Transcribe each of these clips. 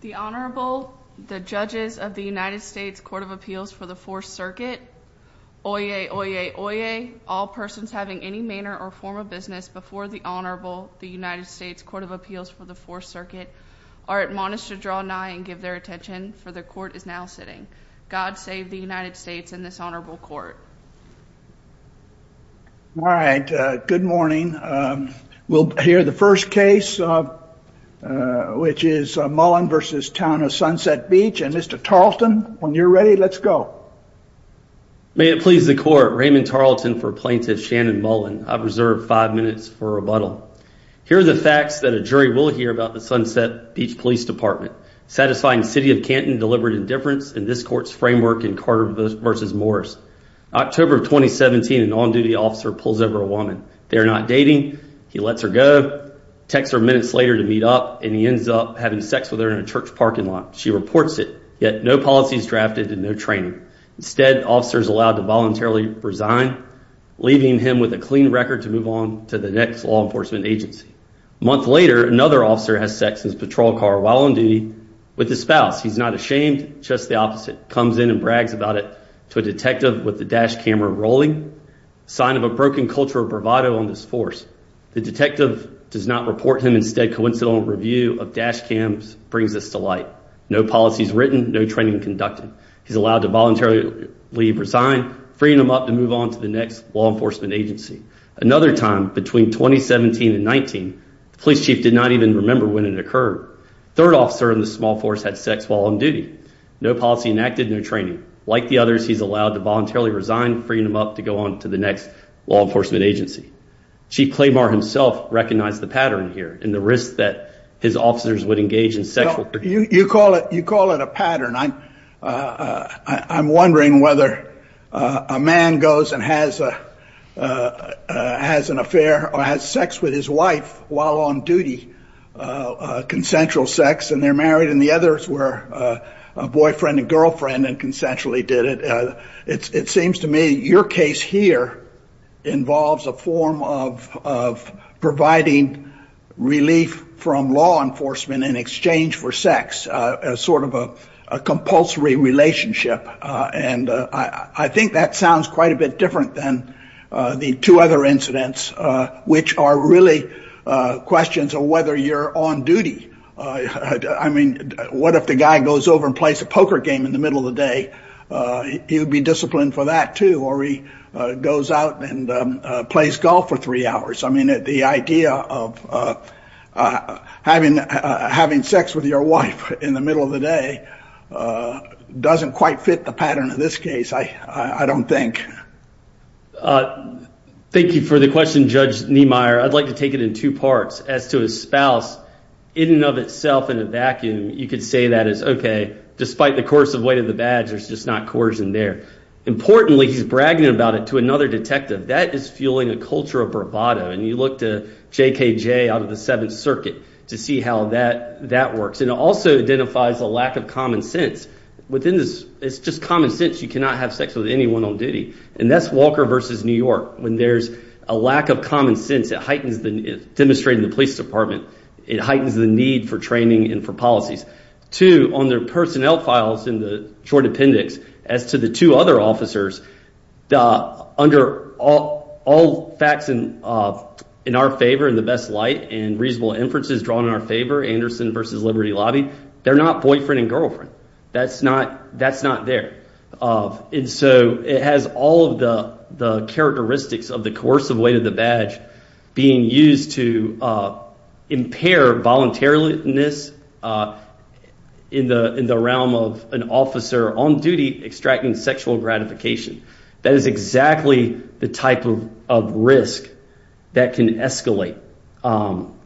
The Honorable, the judges of the United States Court of Appeals for the Fourth Circuit. Oyez, oyez, oyez, all persons having any manner or form of business before the Honorable, the United States Court of Appeals for the Fourth Circuit, are admonished to draw nigh and give their attention, for the court is now sitting. God save the United States and this honorable court. All right, good morning. We'll hear the first case, which is Mullen v. Town of Sunset Beach, and Mr. Tarleton, when you're ready, let's go. May it please the court, Raymond Tarleton for plaintiff Shannon Mullen. I've reserved five minutes for rebuttal. Here are the facts that a jury will hear about the Sunset Beach Police Department, satisfying City of Canton deliberate indifference in this court's framework in Carter v. Morris. October of 2017, an on-duty officer pulls over a woman. They are not dating. He lets her go, texts her minutes later to meet up, and he ends up having sex with her in a church parking lot. She reports it, yet no policies drafted and no training. Instead, officers allowed to voluntarily resign, leaving him with a clean record to move on to the next law enforcement agency. A month later, another officer has sex in his patrol car while on duty with his spouse. He's not ashamed, just the opposite. Comes in and brags about it to a detective with the dash camera rolling, sign of a broken culture of bravado on this force. The detective does not report him. Instead, coincidental review of dash cams brings us to light. No policies written, no training conducted. He's allowed to voluntarily resign, freeing him up to move on to the next law enforcement agency. Another time, between 2017 and 19, the police chief did not even remember when it occurred. Third officer in the small force had sex while on duty. No policy enacted, no training. Like the others, he's allowed to voluntarily resign, freeing him up to go on to the next law enforcement agency. Chief Claymore himself recognized the pattern here, and the risk that his officers would engage in sexual... You call it, you call it a pattern. I'm wondering whether a man goes and has an affair or has sex with his wife while on duty, consensual sex, and they're married. And the others were boyfriend and girlfriend and consensually did it. It seems to me your case here involves a form of providing relief from law enforcement in exchange for sex, as sort of a compulsory relationship. And I think that sounds quite a bit different than the two other incidents, which are really questions of whether you're on duty. I mean, what if the guy goes over and plays a poker game in the middle of the day? He would be disciplined for that, too. Or he goes out and plays golf for three hours. I mean, the idea of having sex with your wife in the middle of the day doesn't quite fit the pattern of this case, I don't think. Thank you for the question, Judge Niemeyer. I'd like to take it in two parts. As to his spouse, in and of itself in a vacuum, you could say that it's okay, despite the course of weight of the badge, there's just not coercion there. Importantly, he's bragging about it to another detective. That is fueling a culture of bravado. And you look to JKJ out of the Seventh Circuit to see how that works. And it also identifies a lack of common sense. It's just common sense. You cannot have sex with anyone on duty. And that's Walker versus New York. When there's a lack of common sense, it heightens the need. Demonstrated in the police department, it heightens the need for training and for policies. Two, on their personnel files in the short appendix, as to the two other officers, under all facts in our favor, in the best light, and reasonable inferences drawn in our favor, Anderson versus Liberty Lobby, they're not boyfriend and girlfriend. That's not there. And so it has all of the characteristics of the coercive weight of the badge being used to impair voluntariness in the realm of an officer on duty extracting sexual gratification. That is exactly the type of risk that can escalate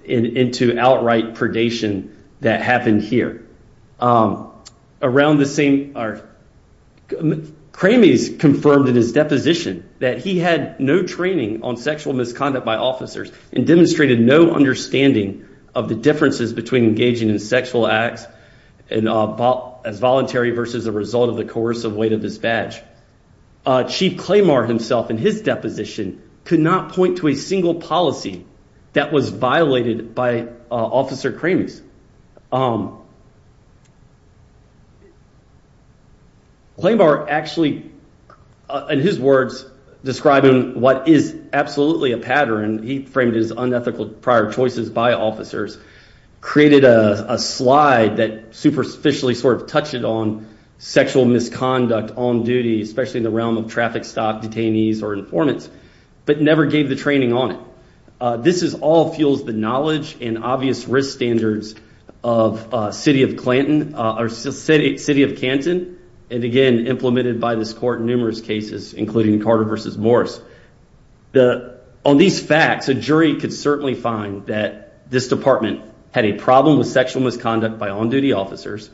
into outright predation that happened here. Kramies confirmed in his deposition that he had no training on sexual misconduct by officers and demonstrated no understanding of the differences between engaging in sexual acts as voluntary versus a result of the coercive weight of his badge. Chief Claymore himself, in his deposition, could not point to a single policy that was violated by Officer Kramies. Claymore actually, in his words, describing what is absolutely a pattern, he framed his unethical prior choices by officers, created a slide that superficially sort of touched it on sexual misconduct on duty, especially in the realm of traffic stop detainees or informants, but never gave the training on it. This all fuels the knowledge and obvious risk standards of City of Canton and again implemented by this court in numerous cases, including Carter versus Morris. On these facts, a jury could certainly find that this department had a problem with sexual misconduct by on-duty officers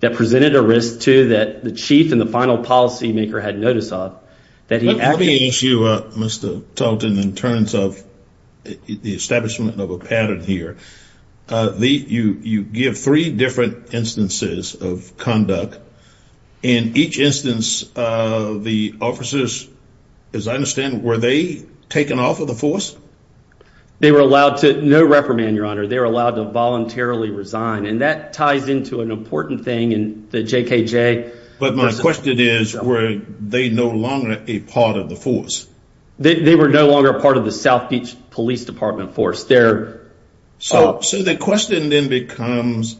that presented a risk to that the chief and the final policymaker had notice of. Let me ask you, Mr. Talton, in terms of the establishment of a pattern here. You give three different instances of conduct. In each instance, the officers, as I understand, were they taken off of the force? They were allowed to, no reprimand, your honor, they were allowed to voluntarily resign and that ties into an important thing in the JKJ case. But my question is, were they no longer a part of the force? They were no longer part of the South Beach Police Department force. So the question then becomes,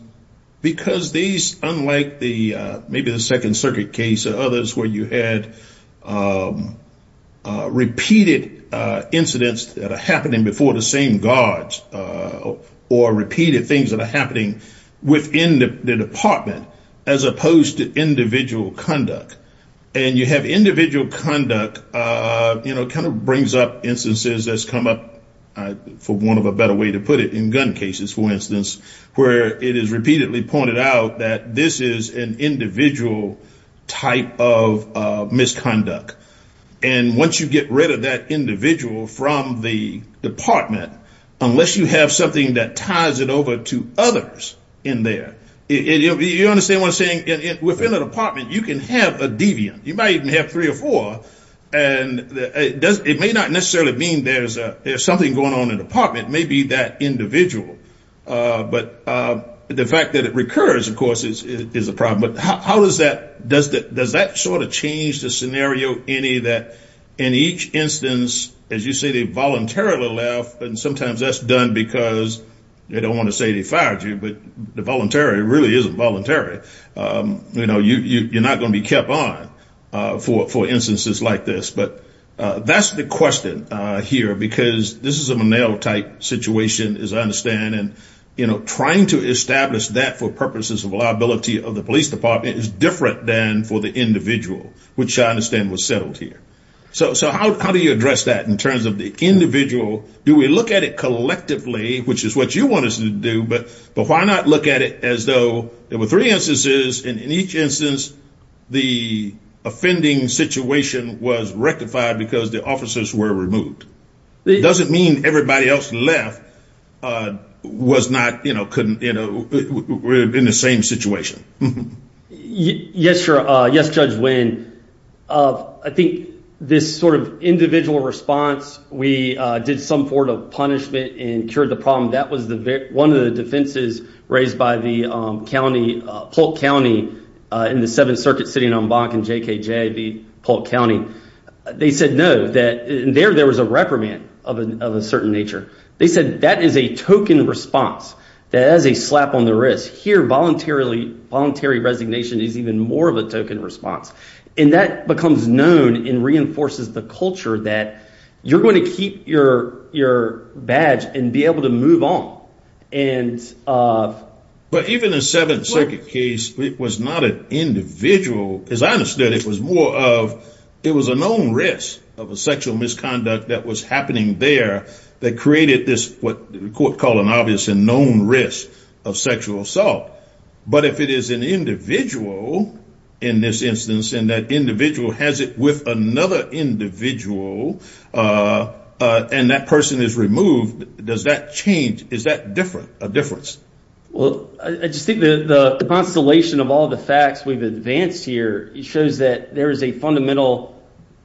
because these, unlike the maybe the Second Circuit case or others where you had repeated incidents that are happening before the same guards or repeated things that are happening within the department, as opposed to individual conduct. And you have individual conduct, you know, kind of brings up instances that's come up, for want of a better way to put it, in gun cases, for instance, where it is repeatedly pointed out that this is an individual type of misconduct. And once you get rid of that individual from the department, unless you have something that ties it over to others in there, you understand what I'm saying? Within a department, you can have a deviant. You might even have three or four. And it may not necessarily mean there's something going on in the department, maybe that individual. But the fact that it recurs, of course, is a problem. But how does that, does that sort of change the scenario any that in each instance, as you say, they voluntarily left, and sometimes that's done because they don't want to say they fired you, but the voluntary really isn't voluntary. You know, you're not going to be kept on for instances like this. But that's the question here, because this is a Monell type situation, as I understand. And, you know, trying to establish that for purposes of liability of the police department is different than for the individual, which I understand was settled here. So how do you address that in terms of the individual? Do we look at it collectively, which is what you want us to do, but but why not look at it as though there were three instances, and in each instance, the offending situation was rectified because the officers were removed? It doesn't mean everybody else left was not, you know, couldn't, you know, we're in the same situation. Yes, sir. Yes, Judge Wynn. I think this sort of individual response, we did some sort of punishment and cured the problem. That was one of the defenses raised by the county, Polk County, in the Seventh Circuit, sitting on Bonk and JKJV, Polk County. They said no, that there was a reprimand of a certain nature. They said that is a token response. That is a slap on the wrist. Here, voluntary resignation is even more of a token response. And that becomes known and reinforces the culture that you're going to keep your badge and be able to move on. But even in the Seventh Circuit case, it was not an individual, as I understood, it was more of, it was a known risk of a sexual misconduct that was happening there, that created this what the court called an obvious and known risk of sexual assault. But if it is an individual, in this instance, and that individual has it with another individual, and that person is removed, does that change? Is that different, a difference? Well, I just think the constellation of all the facts we've advanced here shows that there is a fundamental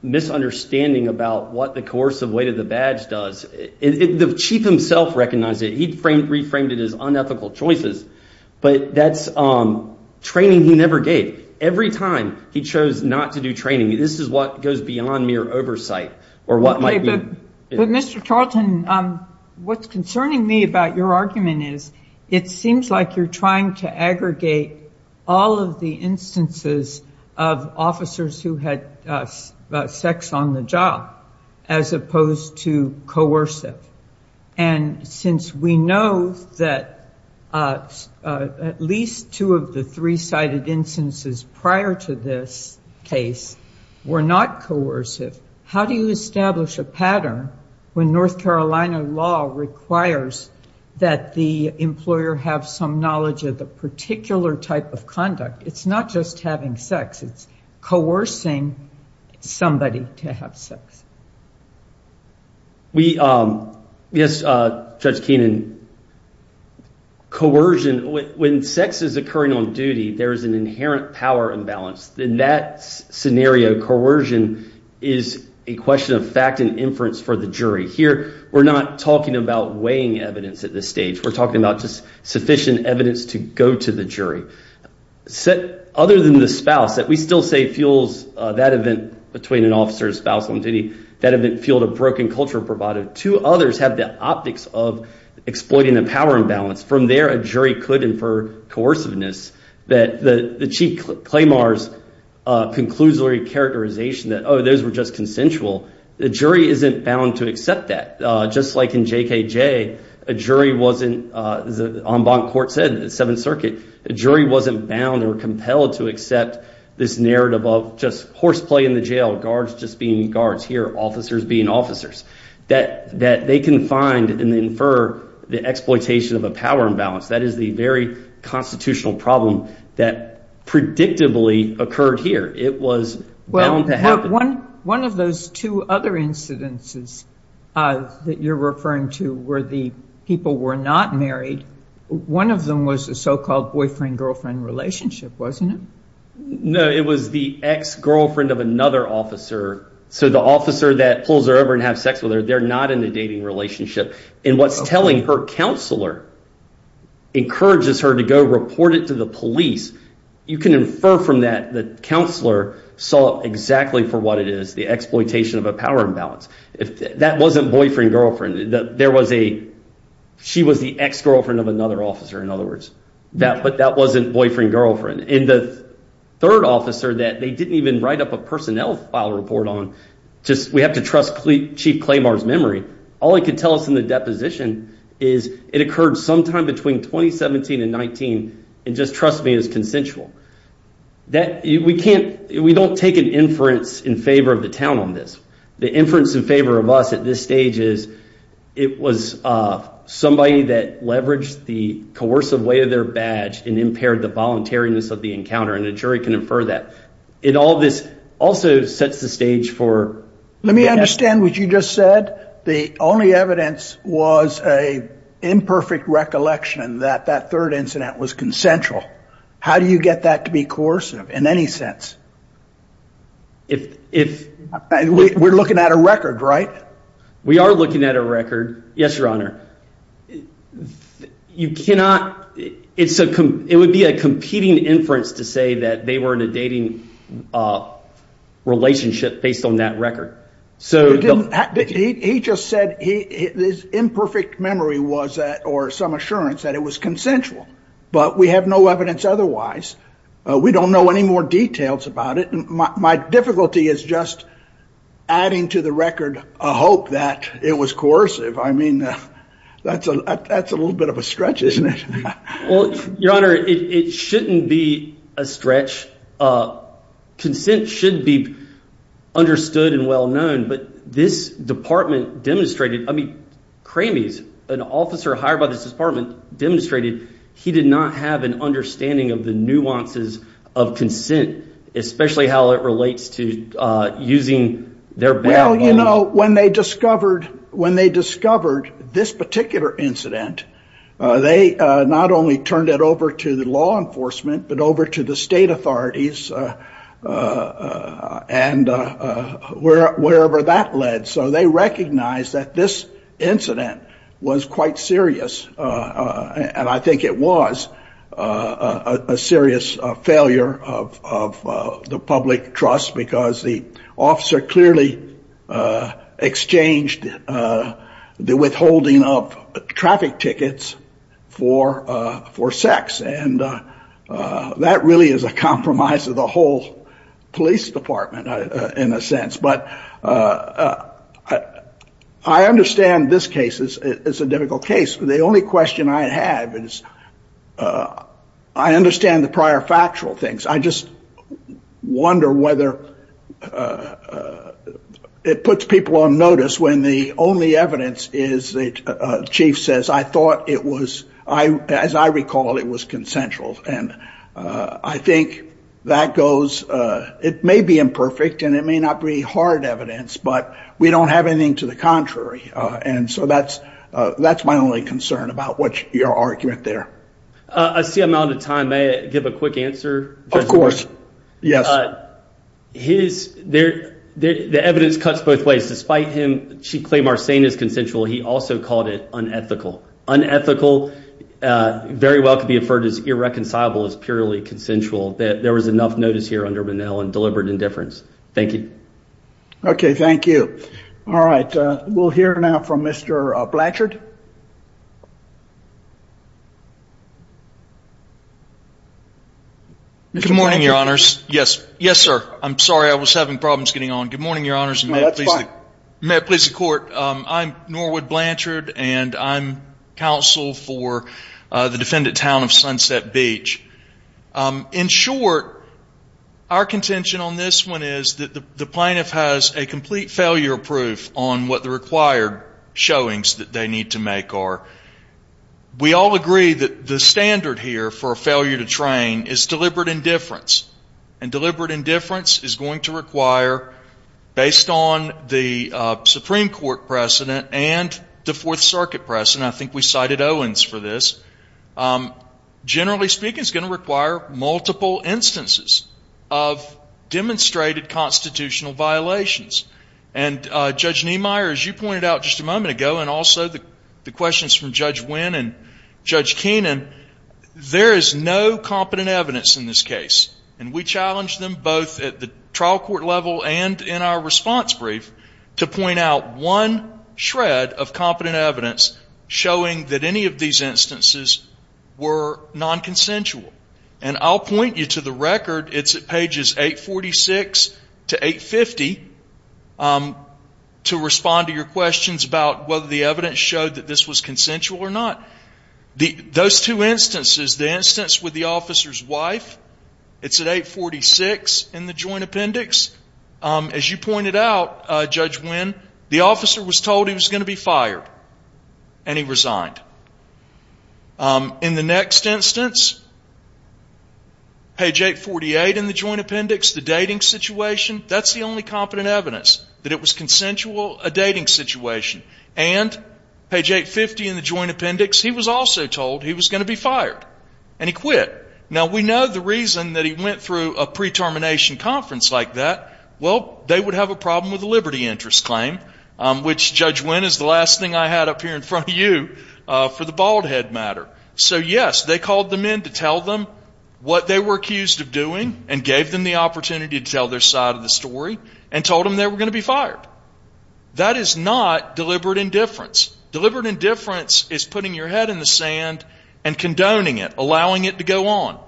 misunderstanding about what the coercive weight of the badge does. The chief himself recognized it. He'd reframed it as unethical choices. But that's training he never gave. Every time he chose not to do training, this is what goes beyond mere oversight, or what might be... Okay, but Mr. Tarleton, what's concerning me about your argument is, it seems like you're trying to aggregate all of the instances of officers who had sex on the job, as opposed to coercive. And since we know that at least two of the three cited instances prior to this case were not coercive, how do you establish a pattern when North Carolina law requires that the employer have some knowledge of the particular type of conduct? It's not just having sex, it's coercing somebody to have sex. Yes, Judge Keenan. Coercion, when sex is occurring on duty, there is an inherent power imbalance. In that scenario, coercion is a question of fact and inference for the jury. Here, we're not talking about weighing evidence at this stage. We're talking about just sufficient evidence to go to the jury. Other than the spouse, that we still say fuels that event between an officer's spouse on duty, that event fueled a broken culture provided. Two others have the optics of exploiting a power imbalance. From there, a jury could infer coerciveness. The Chief Claymore's conclusory characterization that, oh, those were just consensual, the jury isn't bound to accept that. Just like in JKJ, a jury wasn't, as the en banc court said, the Seventh Circuit, a jury wasn't bound or compelled to accept this narrative of just horseplay in the jail, guards just being guards here, officers being officers. That they can find and infer the exploitation of a power imbalance. That is the very constitutional problem that predictably occurred here. It was bound to happen. One of those two other incidences that you're referring to where the people were not married, one of them was a so-called boyfriend-girlfriend relationship, wasn't it? No, it was the ex-girlfriend of another officer. The officer that pulls her over and has sex with her, they're not in a dating relationship. What's telling, her counselor encourages her to go report it to the police. You can infer from that the counselor saw exactly for what it is, the exploitation of a power imbalance. That wasn't boyfriend-girlfriend. She was the ex-girlfriend of another officer, in other words. But that wasn't boyfriend-girlfriend. And the third officer that they didn't even write up a personnel file report on, we have to trust Chief Claymore's memory, all he could tell us in the deposition is it occurred sometime between 2017 and 2019, and just trust me, it's consensual. We don't take an inference in favor of the town on this. The inference in favor of us at this stage is it was somebody that leveraged the coercive way of their badge and impaired the voluntariness of the encounter, and a jury can infer that. It also sets the stage for... Let me understand what you just said. The only evidence was an imperfect recollection that that third incident was consensual. How do you get that to be in any sense? We're looking at a record, right? We are looking at a record. Yes, Your Honor. It would be a competing inference to say that they were in a dating relationship based on that record. He just said his imperfect memory was that, or some assurance that it was consensual, but we have no evidence otherwise. We don't know any more details about it, and my difficulty is just adding to the record a hope that it was coercive. I mean, that's a little bit of a stretch, isn't it? Well, Your Honor, it shouldn't be a stretch. Consent should be understood and well-known, but this department demonstrated... I mean, Cramie's, an officer hired by this department, demonstrated he did not have an understanding of the nuances of consent, especially how it relates to using their bail bond. Well, you know, when they discovered this particular incident, they not only turned it over to the law enforcement, but over to the state authorities and wherever that led, so they recognized that this incident was quite serious, and I think it was a serious failure of the public trust, because the officer clearly exchanged the withholding of traffic tickets for sex, and that really is a compromise of the whole police department, in a sense, but I understand this case is a difficult case. The only question I have is, I understand the prior factual things. I just wonder whether it puts people on notice when the only evidence is the chief says, I thought it was, as I recall, it was consensual, and I think that goes, it may be imperfect, and it may not be hard evidence, but we don't have anything to the contrary, and so that's my only concern about what your argument there. I see I'm out of time. May I give a quick answer? Of course. Yes. His, there, the evidence cuts both ways. Despite him, she claimed our saying is consensual, he also called it unethical. Unethical very well could be referred as irreconcilable as purely consensual, that there was enough notice here under Bunnell and deliberate indifference. Thank you. Okay, thank you. All right, we'll hear now from Mr. Blanchard. Good morning, your honors. Yes, yes, sir. I'm sorry, I was having problems getting on. Good morning, your honors. May I please, may I please the court. I'm Norwood Blanchard, and I'm counsel for the defendant town of Sunset Beach. In short, our contention on this one is that the plaintiff has a complete failure proof on what the required showings that they need to make are. We all agree that the standard here for a failure to train is deliberate indifference, and deliberate indifference is going to require, based on the Supreme Court precedent and the Fourth Circuit precedent, I think we cited Owens for this, generally speaking is going to require multiple instances of demonstrated constitutional violations. And Judge Niemeyer, as you pointed out just a moment ago, and also the questions from Judge Wynn and Judge Keenan, there is no competent evidence in this case. And we challenge them both at the trial court level and in our response brief to point out one shred of competent evidence showing that any of these instances were nonconsensual. And I'll point you to the record. It's at pages 846 to 850 to respond to your questions about whether the evidence showed that this was consensual or not. Those two instances, the instance with the officer's wife, it's at 846 in the joint appendix. As you pointed out, Judge Wynn, the officer was told he was going to be fired, and he resigned. In the next instance, page 848 in the joint appendix, the dating situation, that's the only competent evidence that it was consensual, a dating situation. And page 850 in the joint appendix, he was also told he was going to be fired, and he quit. Now, we know the reason that he went through a pre-termination conference like that, well, they would have a problem with a liberty interest claim, which Judge Wynn is the last thing I had up here in front of you for the bald head matter. So, yes, they called them in to tell them what they were accused of doing and gave them the opportunity to tell their side of the story and told them they were going to be fired. That is not deliberate indifference. Deliberate indifference is putting your head in the hand and condoning it, allowing it to go on.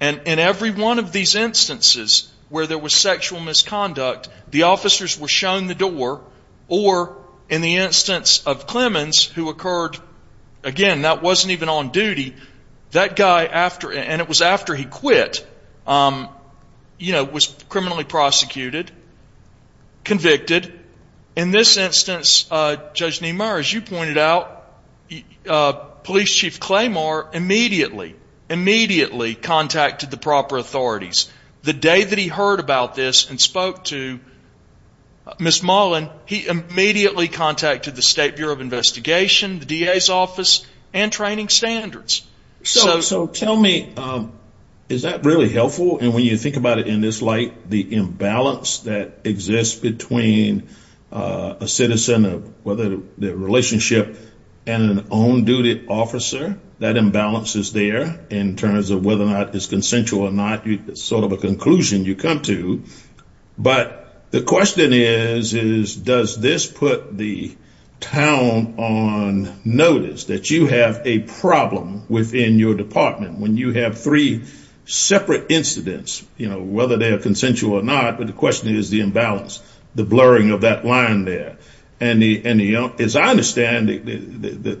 And in every one of these instances where there was sexual misconduct, the officers were shown the door, or in the instance of Clemens, who occurred, again, that wasn't even on duty, that guy after, and it was after he quit, you know, was criminally prosecuted, convicted. In this instance, Judge Niemeyer, as you pointed out, Police Chief Claymore immediately, immediately contacted the proper authorities. The day that he heard about this and spoke to Ms. Mullen, he immediately contacted the State Bureau of Investigation, the DA's office, and training standards. So tell me, is that really helpful? And when you think about it in this light, the imbalance that exists between a citizen of whether the relationship and an on-duty officer, that imbalance is there in terms of whether or not it's consensual or not. It's sort of a conclusion you come to. But the question is, is does this put the town on notice that you have a problem within your department when you have three separate incidents, you know, whether they are consensual or not? But the question is the imbalance, the blurring of that line there. And as I understand it,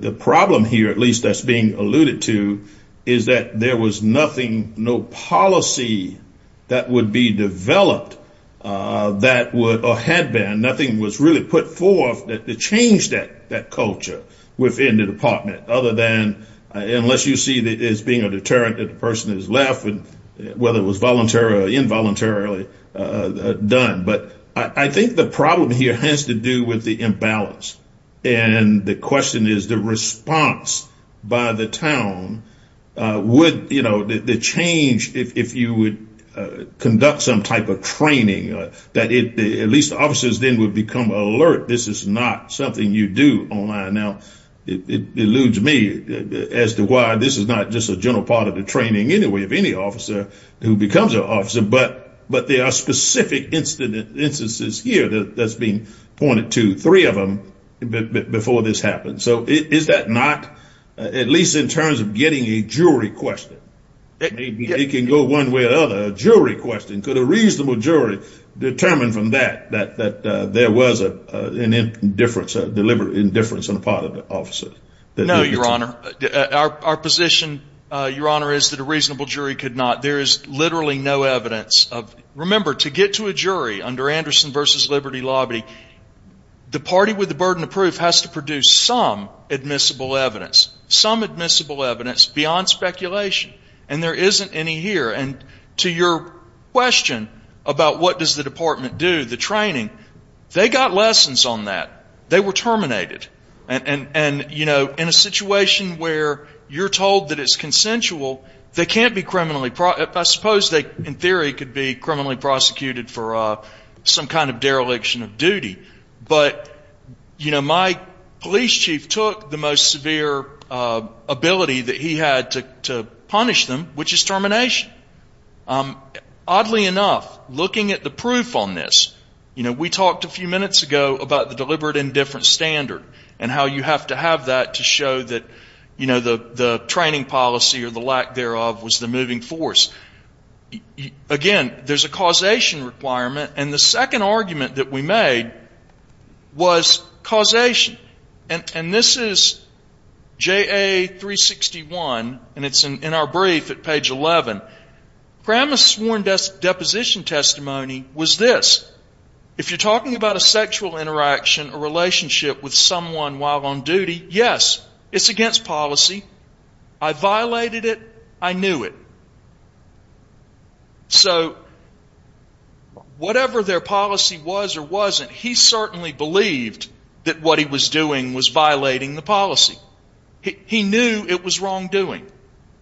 the problem here, at least that's being alluded to, is that there was nothing, no policy that would be developed that would or had been, nothing was really put forth to change that culture within the department other than, unless you see it as being a deterrent that the person has left, whether it was voluntarily or involuntarily done. But I think the problem here has to do with the imbalance. And the question is the response by the town, would, you know, the change if you would conduct some type of training, that at least officers then would become alert, this is not something you do online. Now, it eludes me as to why this is not just a general part of the training anyway of any officer who becomes an officer, but there are specific instances here that's been pointed to, three of them, before this happened. So is that not, at least in terms of getting a jury question, it can go one way or another, a jury question, could a reasonable jury determine from that, that there was an indifference, a deliberate indifference on the part of the officer? No, Your Honor. Our position, Your Honor, is that a reasonable jury could not, there is literally no evidence of, remember, to get to a jury under Anderson v. Liberty Lobby, the party with the burden of proof has to produce some admissible evidence, some admissible evidence beyond speculation. And there isn't any here. And to your question about what does the department do, the training, they got lessons on that. They were terminated. And, you know, in a situation where you're told that it's consensual, they can't be criminally, I suppose they, in theory, could be criminally prosecuted for some kind of dereliction of duty. But, you know, my police chief took the most severe ability that he had to punish them, which is termination. Oddly enough, looking at the proof on this, you know, we talked a few minutes ago about the deliberate indifference standard and how you have to have that to show that, you know, you're moving force. Again, there's a causation requirement. And the second argument that we made was causation. And this is JA 361, and it's in our brief at page 11. Kramer's sworn deposition testimony was this. If you're talking about a sexual interaction, a relationship with someone while on duty, yes, it's against policy. I violated it. I knew it. So whatever their policy was or wasn't, he certainly believed that what he was doing was violating the policy. He knew it was wrongdoing.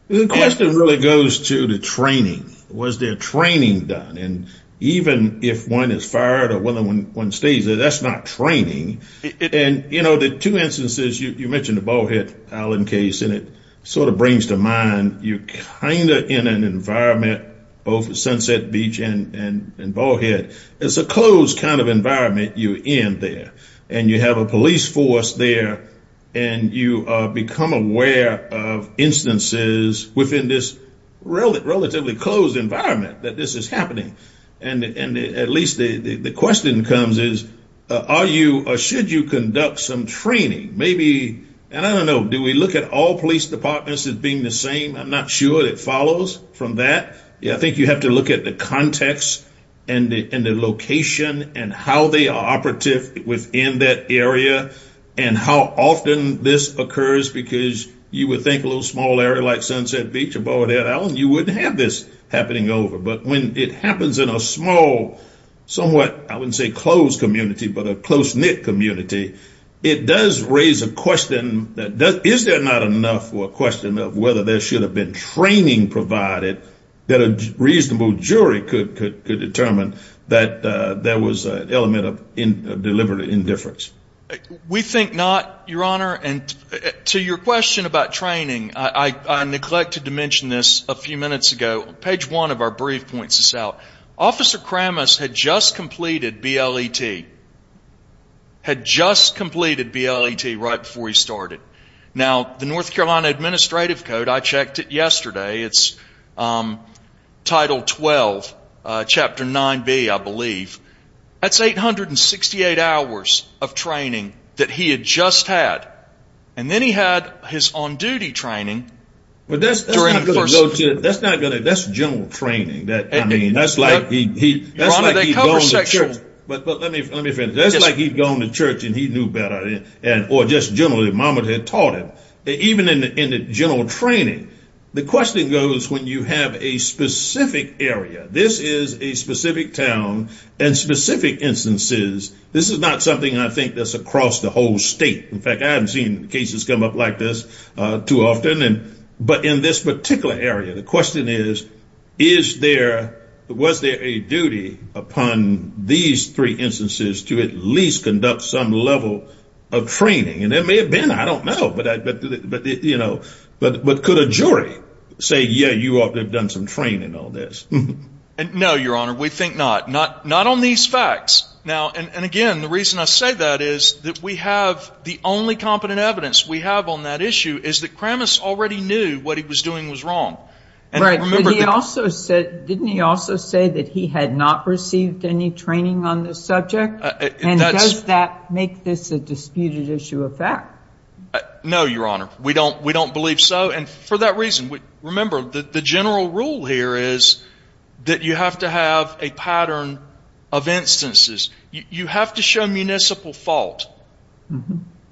The question really goes to the training. Was there training done? And even if one is fired or whether one stays, that's not training. And, you know, the two instances, you mentioned the Ballhead Island case, and it sort of brings to mind, you're kind of in an environment, both Sunset Beach and Ballhead, it's a closed kind of environment you're in there. And you have a police force there. And you become aware of instances within this relatively closed environment that this is happening. And at least the question comes is, are you or should you conduct some training? Maybe? And I don't know, do we look at all police departments as being the same? I'm not sure it follows from that. Yeah, I think you have to look at the context and the location and how they are operative within that area. And how often this occurs, because you would think a little small area like Sunset Beach or Ballhead Island, you wouldn't have this happening over. But when it happens in a small, somewhat, I wouldn't say closed community, but a close knit community, it does raise a question that does, is there not enough for a question of whether there should have been training provided that a reasonable jury could could determine that there was an element of in deliberate indifference? We think not, Your Honor. And to your question about training, I neglected to mention this a few minutes ago, page one of our brief points this out. Officer Kramus had just completed BLET, had just completed BLET right before he started. Now, the North Carolina Administrative Code, I checked it yesterday. It's Title 12, Chapter 9B, I believe. That's 868 hours of training that he had just had. And then he had his on duty training. But that's not good. That's not good. That's general training that I mean, that's like he, that's like he'd gone to church, but let me finish. That's like he'd gone to church and he knew better. And or just generally Mama had taught him, even in the general training. The question goes, when you have a specific area, this is a specific town, and specific instances. This is not something I think that's across the whole state. In fact, I haven't seen cases come up like this too often. And but in this particular area, the question is, is there, was there a duty upon these three instances to at least conduct some level of training? And there may have been, I don't know. But I, but you know, but but could a jury say, yeah, you ought to have done some training on this? And no, Your Honor, we think not, not not on these facts. Now, and again, the reason I say that is that we have the only competent evidence we have on that issue is that Kramas already knew what he was doing was wrong. Right. But he also said, didn't he also say that he had not received any training on this subject? And does that make this a disputed issue of fact? No, Your Honor, we don't we don't believe so. And for that reason, we remember that the general rule here is that you have to have a pattern of instances. You have to show municipal fault.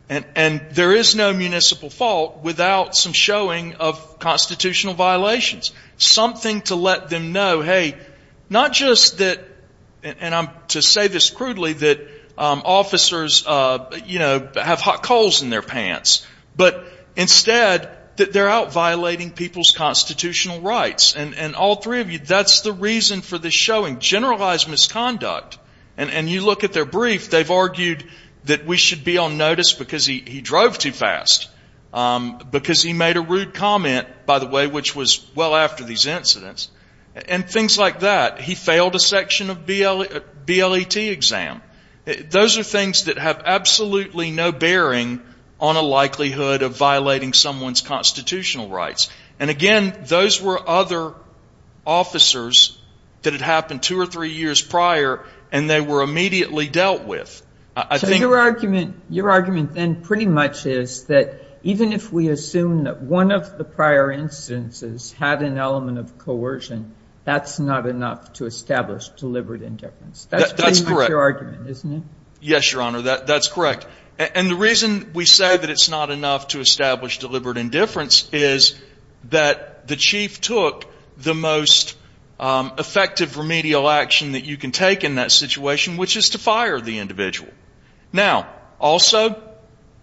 And there is no municipal fault without some showing of constitutional violations, something to let them know, hey, not just that, and I'm to say this crudely, that officers, you know, have hot coals in their pants, but instead that they're out violating people's constitutional rights. And all three of you, that's the reason for the showing of generalized misconduct. And you look at their brief, they've argued that we should be on notice because he drove too fast, because he made a rude comment, by the way, which was well after these incidents, and things like that. He failed a section of BLET exam. Those are things that have absolutely no bearing on a likelihood of violating someone's constitutional rights. And again, those were other officers that had happened two or three years prior, and they were immediately dealt with. I think your argument, your argument then pretty much is that even if we assume that one of the prior instances had an element of coercion, that's not enough to establish deliberate indifference. That's your argument, isn't it? Yes, Your Honor, that's correct. And the reason we say that that's not enough to establish deliberate indifference is that the chief took the most effective remedial action that you can take in that situation, which is to fire the individual. Now, also,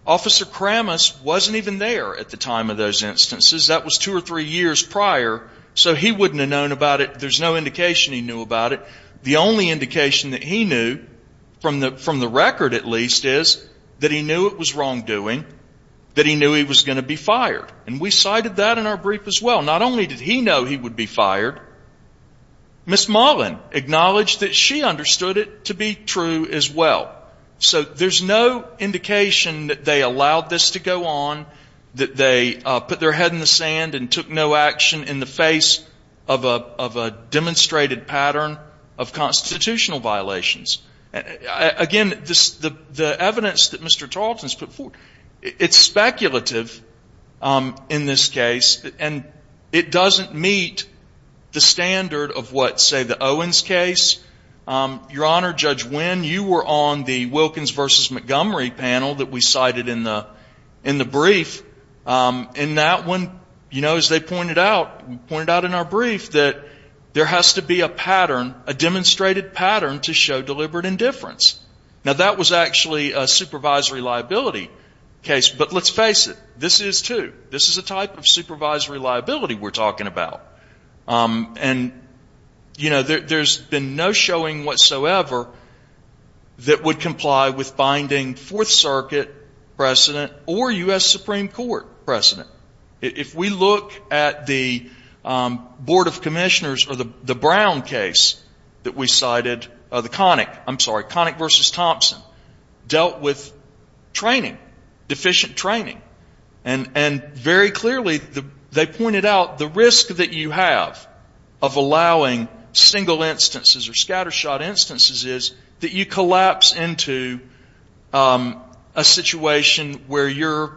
Officer Kramas wasn't even there at the time of those instances. That was two or three years prior, so he wouldn't have known about it. There's no indication he knew about it. The only indication that he knew, from the record at least, is that he knew it was wrongdoing, that he knew he was going to be fired. And we cited that in our brief as well. Not only did he know he would be fired, Ms. Mullen acknowledged that she understood it to be true as well. So there's no indication that they allowed this to go on, that they put their head in the sand and took no action in the face of a demonstrated pattern of constitutional violations. Again, the evidence that Mr. Tarleton has put forward, it's speculative in this case, and it doesn't meet the standard of what, say, the Owens case. Your Honor, Judge Winn, you were on the Wilkins v. Montgomery panel that we cited in the brief. In that one, you know, as they pointed out, pointed out in our brief, that there has to be a pattern, a demonstrated pattern to show deliberate indifference. Now, that was actually a supervisory liability case. But let's face it, this is too. This is a type of supervisory liability we're talking about. And, you know, there's been no showing whatsoever that would comply with binding Fourth Circuit precedent or U.S. Supreme Court precedent. If we look at the Board of Commissioners or the Brown case that we cited, the Connick, I'm sorry, Connick v. Thompson, dealt with training, deficient training. And very clearly they pointed out the risk that you have of allowing single instances or scatter shot instances is that you collapse into a situation where you're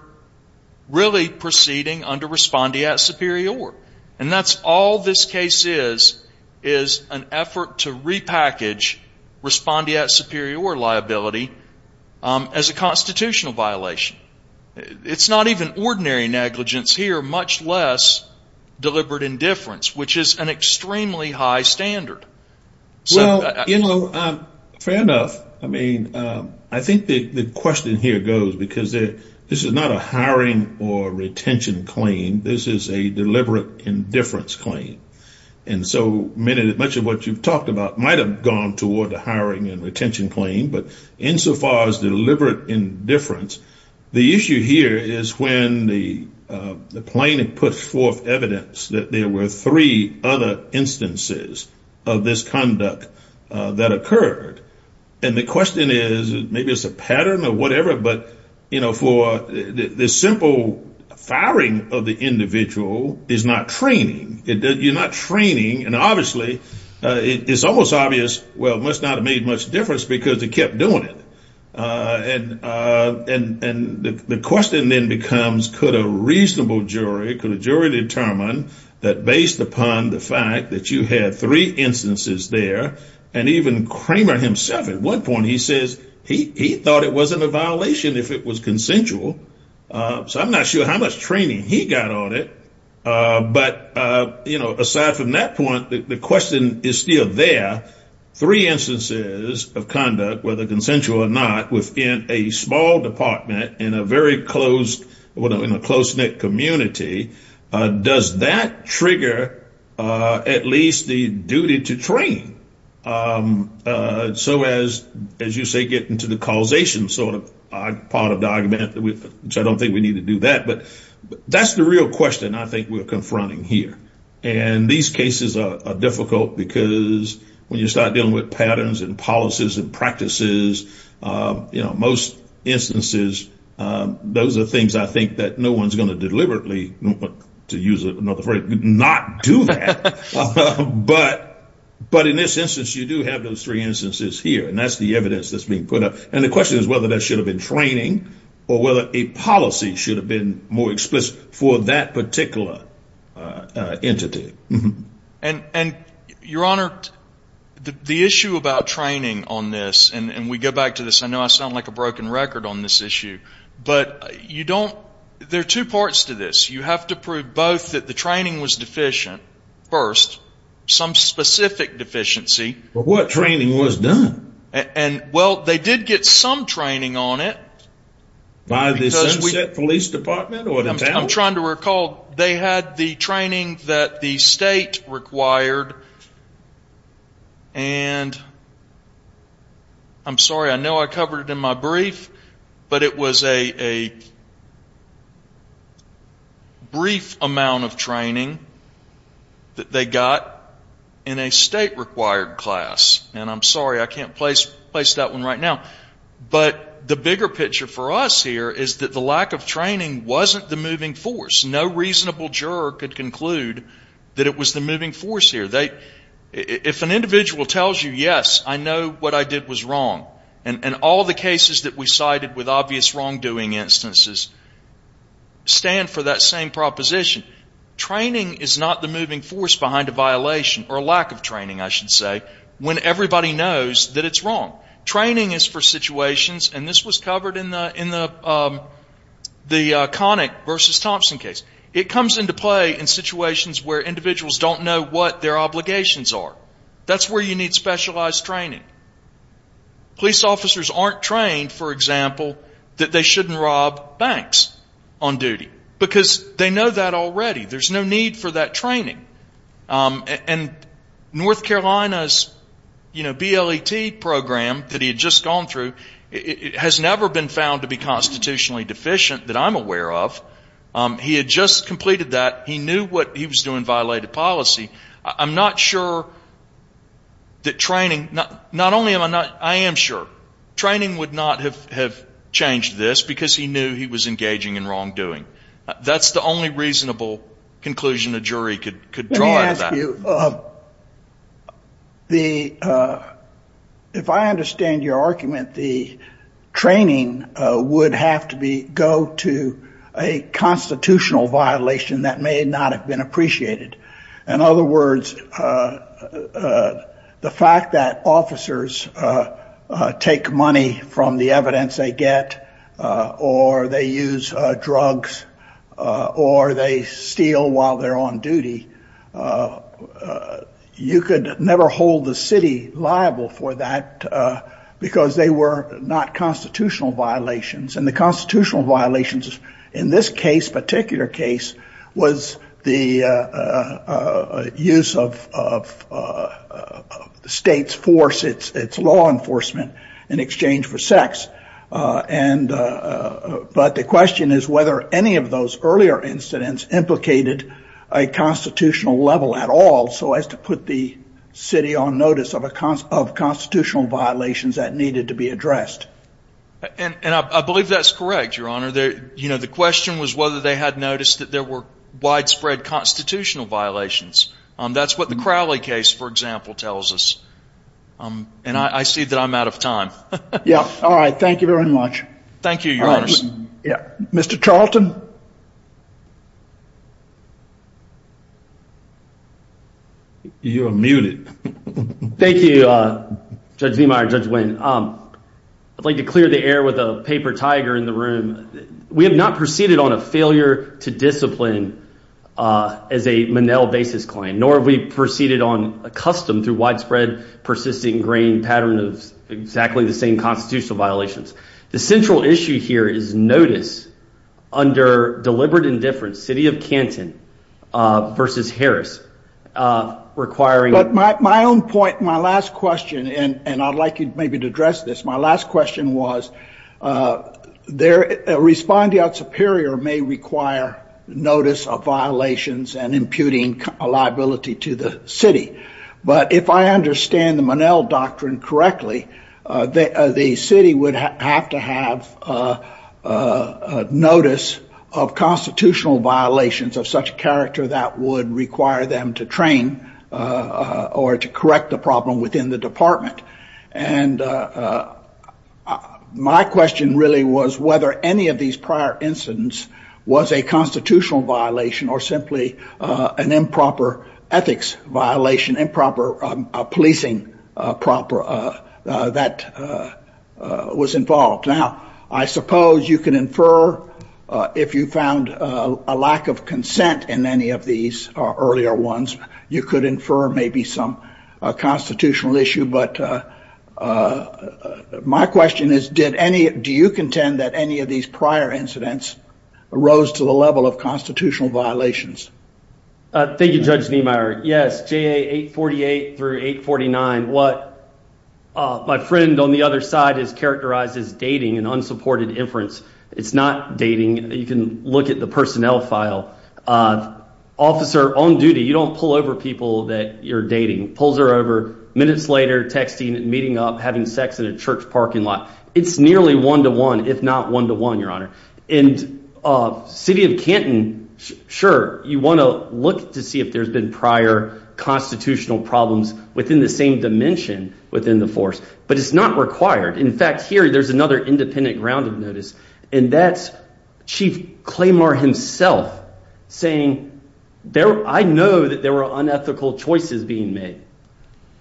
really proceeding under respondeat superior. And that's all this case is, is an effort to repackage respondeat superior liability as a constitutional violation. It's not even ordinary negligence here, much less deliberate indifference, which is an extremely high standard. Well, you know, fair enough. I mean, I think the question here goes, because this is not a hiring or retention claim. This is a deliberate indifference claim. And so much of what you've talked about might have gone toward a hiring and retention claim. But insofar as deliberate indifference, the issue here is when the plaintiff puts forth evidence that there were three other instances of this conduct that occurred. And the question is, maybe it's a pattern or whatever, but, you know, for the simple firing of the individual is not training. You're not training. And obviously, it's almost obvious, well, must not have made much difference because they kept doing it. And the question then becomes, could a reasonable jury, could a jury determine that based upon the fact that you had three instances there? And even Kramer himself at one point, he says he thought it wasn't a violation if it was consensual. So I'm not sure how much training he got on it. But, you know, aside from that point, the question is still there. Three instances of conduct, whether consensual or not, within a small department in a very closed, in a close-knit community. Does that trigger at least the duty to train? So as you say, get into the causation sort of part of the argument, which I don't think we need to do that. But that's the real question I think we're confronting here. And these cases are difficult because when you start dealing with patterns and policies and practices, you know, most instances, those are things I think that no one's going to deliberately, to use another phrase, not do that. But in this instance, you do have those three instances here. And that's the evidence that's being put up. And the question is whether that should have been training or whether a policy should have been more explicit for that particular entity. And, Your Honor, the issue about training on this, and we go back to this, I know I sound like a broken record on this issue, but you don't, there are two parts to this. You have to prove both that the training was deficient first, some specific deficiency. But what training was done? And, well, they did get some training on it. By the Sunset Police Department? I'm trying to recall, they had the training that the state required. And I'm sorry, I know I covered it in my brief, but it was a brief amount of training that they got in a state required class. And I'm sorry, I can't place that one right now. But the bigger picture for us here is that the lack of training wasn't the moving force. No reasonable juror could conclude that it was the moving And all the cases that we cited with obvious wrongdoing instances stand for that same proposition. Training is not the moving force behind a violation or lack of training, I should say, when everybody knows that it's wrong. Training is for situations, and this was covered in the Connick versus Thompson case. It comes into play in situations where individuals don't know what their obligations are. That's where you need specialized training. Police officers aren't trained, for example, that they shouldn't rob banks on duty, because they know that already. There's no need for that training. And North Carolina's, you know, BLET program that he had just gone through has never been found to be constitutionally deficient that I'm aware of. He had just completed that. He knew what he was doing violated policy. I'm not sure that training, not only am I not, I am sure, training would not have changed this because he knew he was engaging in wrongdoing. That's the only reasonable conclusion a jury could draw to that. Let me ask you, if I understand your argument, the training would have to be, go to a constitutional violation that may not have been appreciated. In other words, the fact that officers take money from the evidence they get, or they use drugs, or they steal while they're on duty, you could never hold the city liable for that because they were not constitutional violations. And the constitutional violations in this case, particular case, was the use of state force, it's law enforcement in exchange for sex. But the question is whether any of those earlier incidents implicated a constitutional level at all so as to put the city on notice of constitutional violations that needed to be addressed. And I believe that's correct, Your Honor. You know, the question was whether they had noticed that there were widespread constitutional violations. That's what the Crowley case, for example, tells us. And I see that I'm out of time. Yeah. All right. Thank you very much. Thank you, Your Honor. Mr. Charlton? You are muted. Thank you, Judge Niemeyer, Judge Winn. I'd like to clear the air with a paper tiger in the room. We have not proceeded on a failure to discipline as a basis claim, nor have we proceeded on a custom through widespread, persisting grain pattern of exactly the same constitutional violations. The central issue here is notice under deliberate indifference, city of Canton versus Harris. But my own point, my last question, and I'd like you maybe to address this. My last question was a respondeat superior may require notice of violations and imputing a liability to the city. But if I understand the Monell doctrine correctly, the city would have to have notice of constitutional violations of such character that would require them to train or to correct the problem within the department. And my question really was whether any of these prior incidents was a constitutional violation or simply an improper ethics violation, improper policing that was involved. Now, I suppose you can infer if you found a lack of consent in any of these earlier ones, you could infer maybe some constitutional issue. But my question is, do you contend that any of these prior incidents rose to the level of constitutional violations? Thank you, Judge Niemeyer. Yes, JA 848 through 849. What my friend on the other side has characterized as dating and unsupported inference. It's not dating. You can look at the personnel file. Officer on duty, you don't pull over people that you're dating. Pulls her over, minutes later texting, meeting up, having sex in a church parking lot. It's nearly one-to-one, if not one-to-one, Your Honor. And City of Canton, sure, you want to look to see if there's been prior constitutional problems within the same dimension within the force. But it's not required. In fact, here, there's another independent grounded notice. And that's Chief Claymore himself saying, I know that there were unethical choices being made.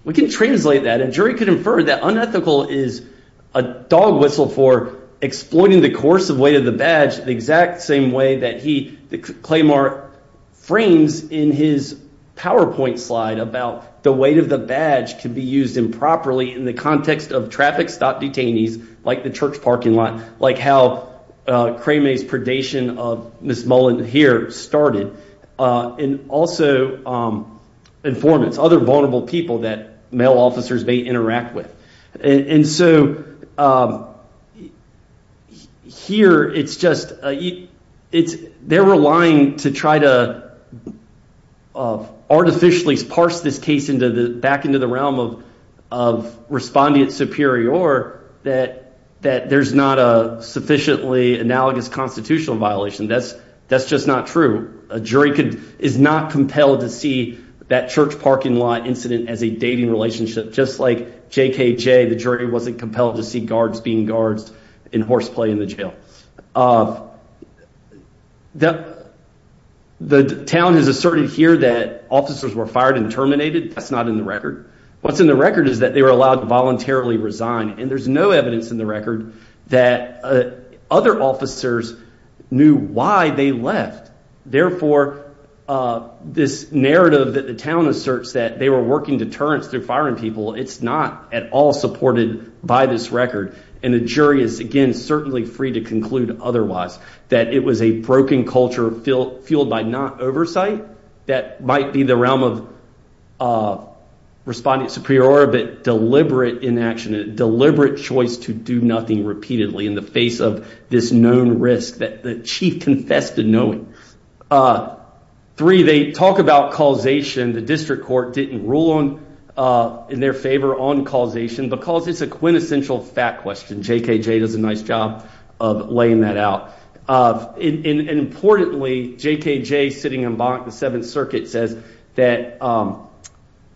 We can translate that. A jury could infer that unethical is a dog whistle for exploiting the course of weight of the badge the exact same way that Claymore frames in his PowerPoint slide about the weight of the badge could be used improperly in the context of traffic stop detainees, like the church parking lot, like how Cramay's predation of Ms. Mullin here started. And also informants, other vulnerable people that male officers may interact with. And so here, it's just, it's, they're relying to try to artificially parse this case back into the realm of respondent superior that there's not a sufficiently analogous constitutional violation. That's just not true. A jury is not compelled to see that church parking lot incident as a dating relationship, just like JKJ, the jury wasn't compelled to see guards being guards in horseplay in the jail. The town has asserted here that officers were fired and terminated. That's not in the record. What's in the record is that they were allowed to voluntarily resign. And there's no evidence in the record that other officers knew why they left. Therefore, this narrative that the town asserts that they were working deterrence through firing people, it's not at all supported by this record. And the jury is, again, certainly free to conclude otherwise, that it was a broken culture fueled by not oversight. That might be the realm of respondent superior, but deliberate inaction, deliberate choice to do nothing repeatedly in the face of this known risk that the chief confessed to knowing. Three, they talk about causation. The district court didn't rule in their favor on causation because it's a quintessential fact question. JKJ does a nice job of laying that out. Importantly, JKJ sitting in Bonk, the Seventh Circuit, says that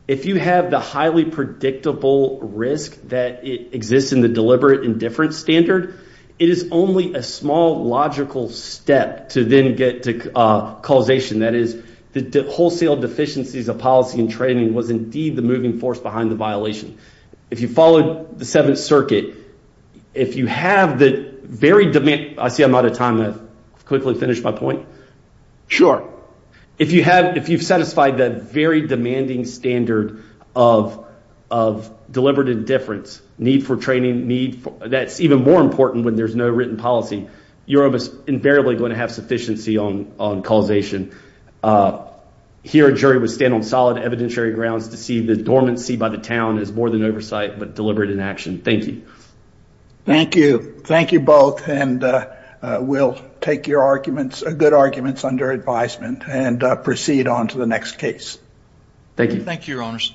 if you have the highly predictable risk that exists in the deliberate indifference standard, it is only a small logical step to then get to causation. That is, the wholesale deficiencies of policy and training was indeed the moving force behind the violation. If you followed the Seventh Circuit, if you have the very demand... I see I'm out of time. I've quickly finished my point. Sure. If you've satisfied that very demanding standard of deliberate indifference, need for training, that's even more important when there's no written policy, you're invariably going to have sufficiency on causation. Here, a jury would stand on solid evidentiary grounds to see the dormancy by the town as more than oversight, but deliberate inaction. Thank you. Thank you. Thank you both, and we'll take your arguments, good arguments, under advisement and proceed on to the next case. Thank you. Thank you, your honors.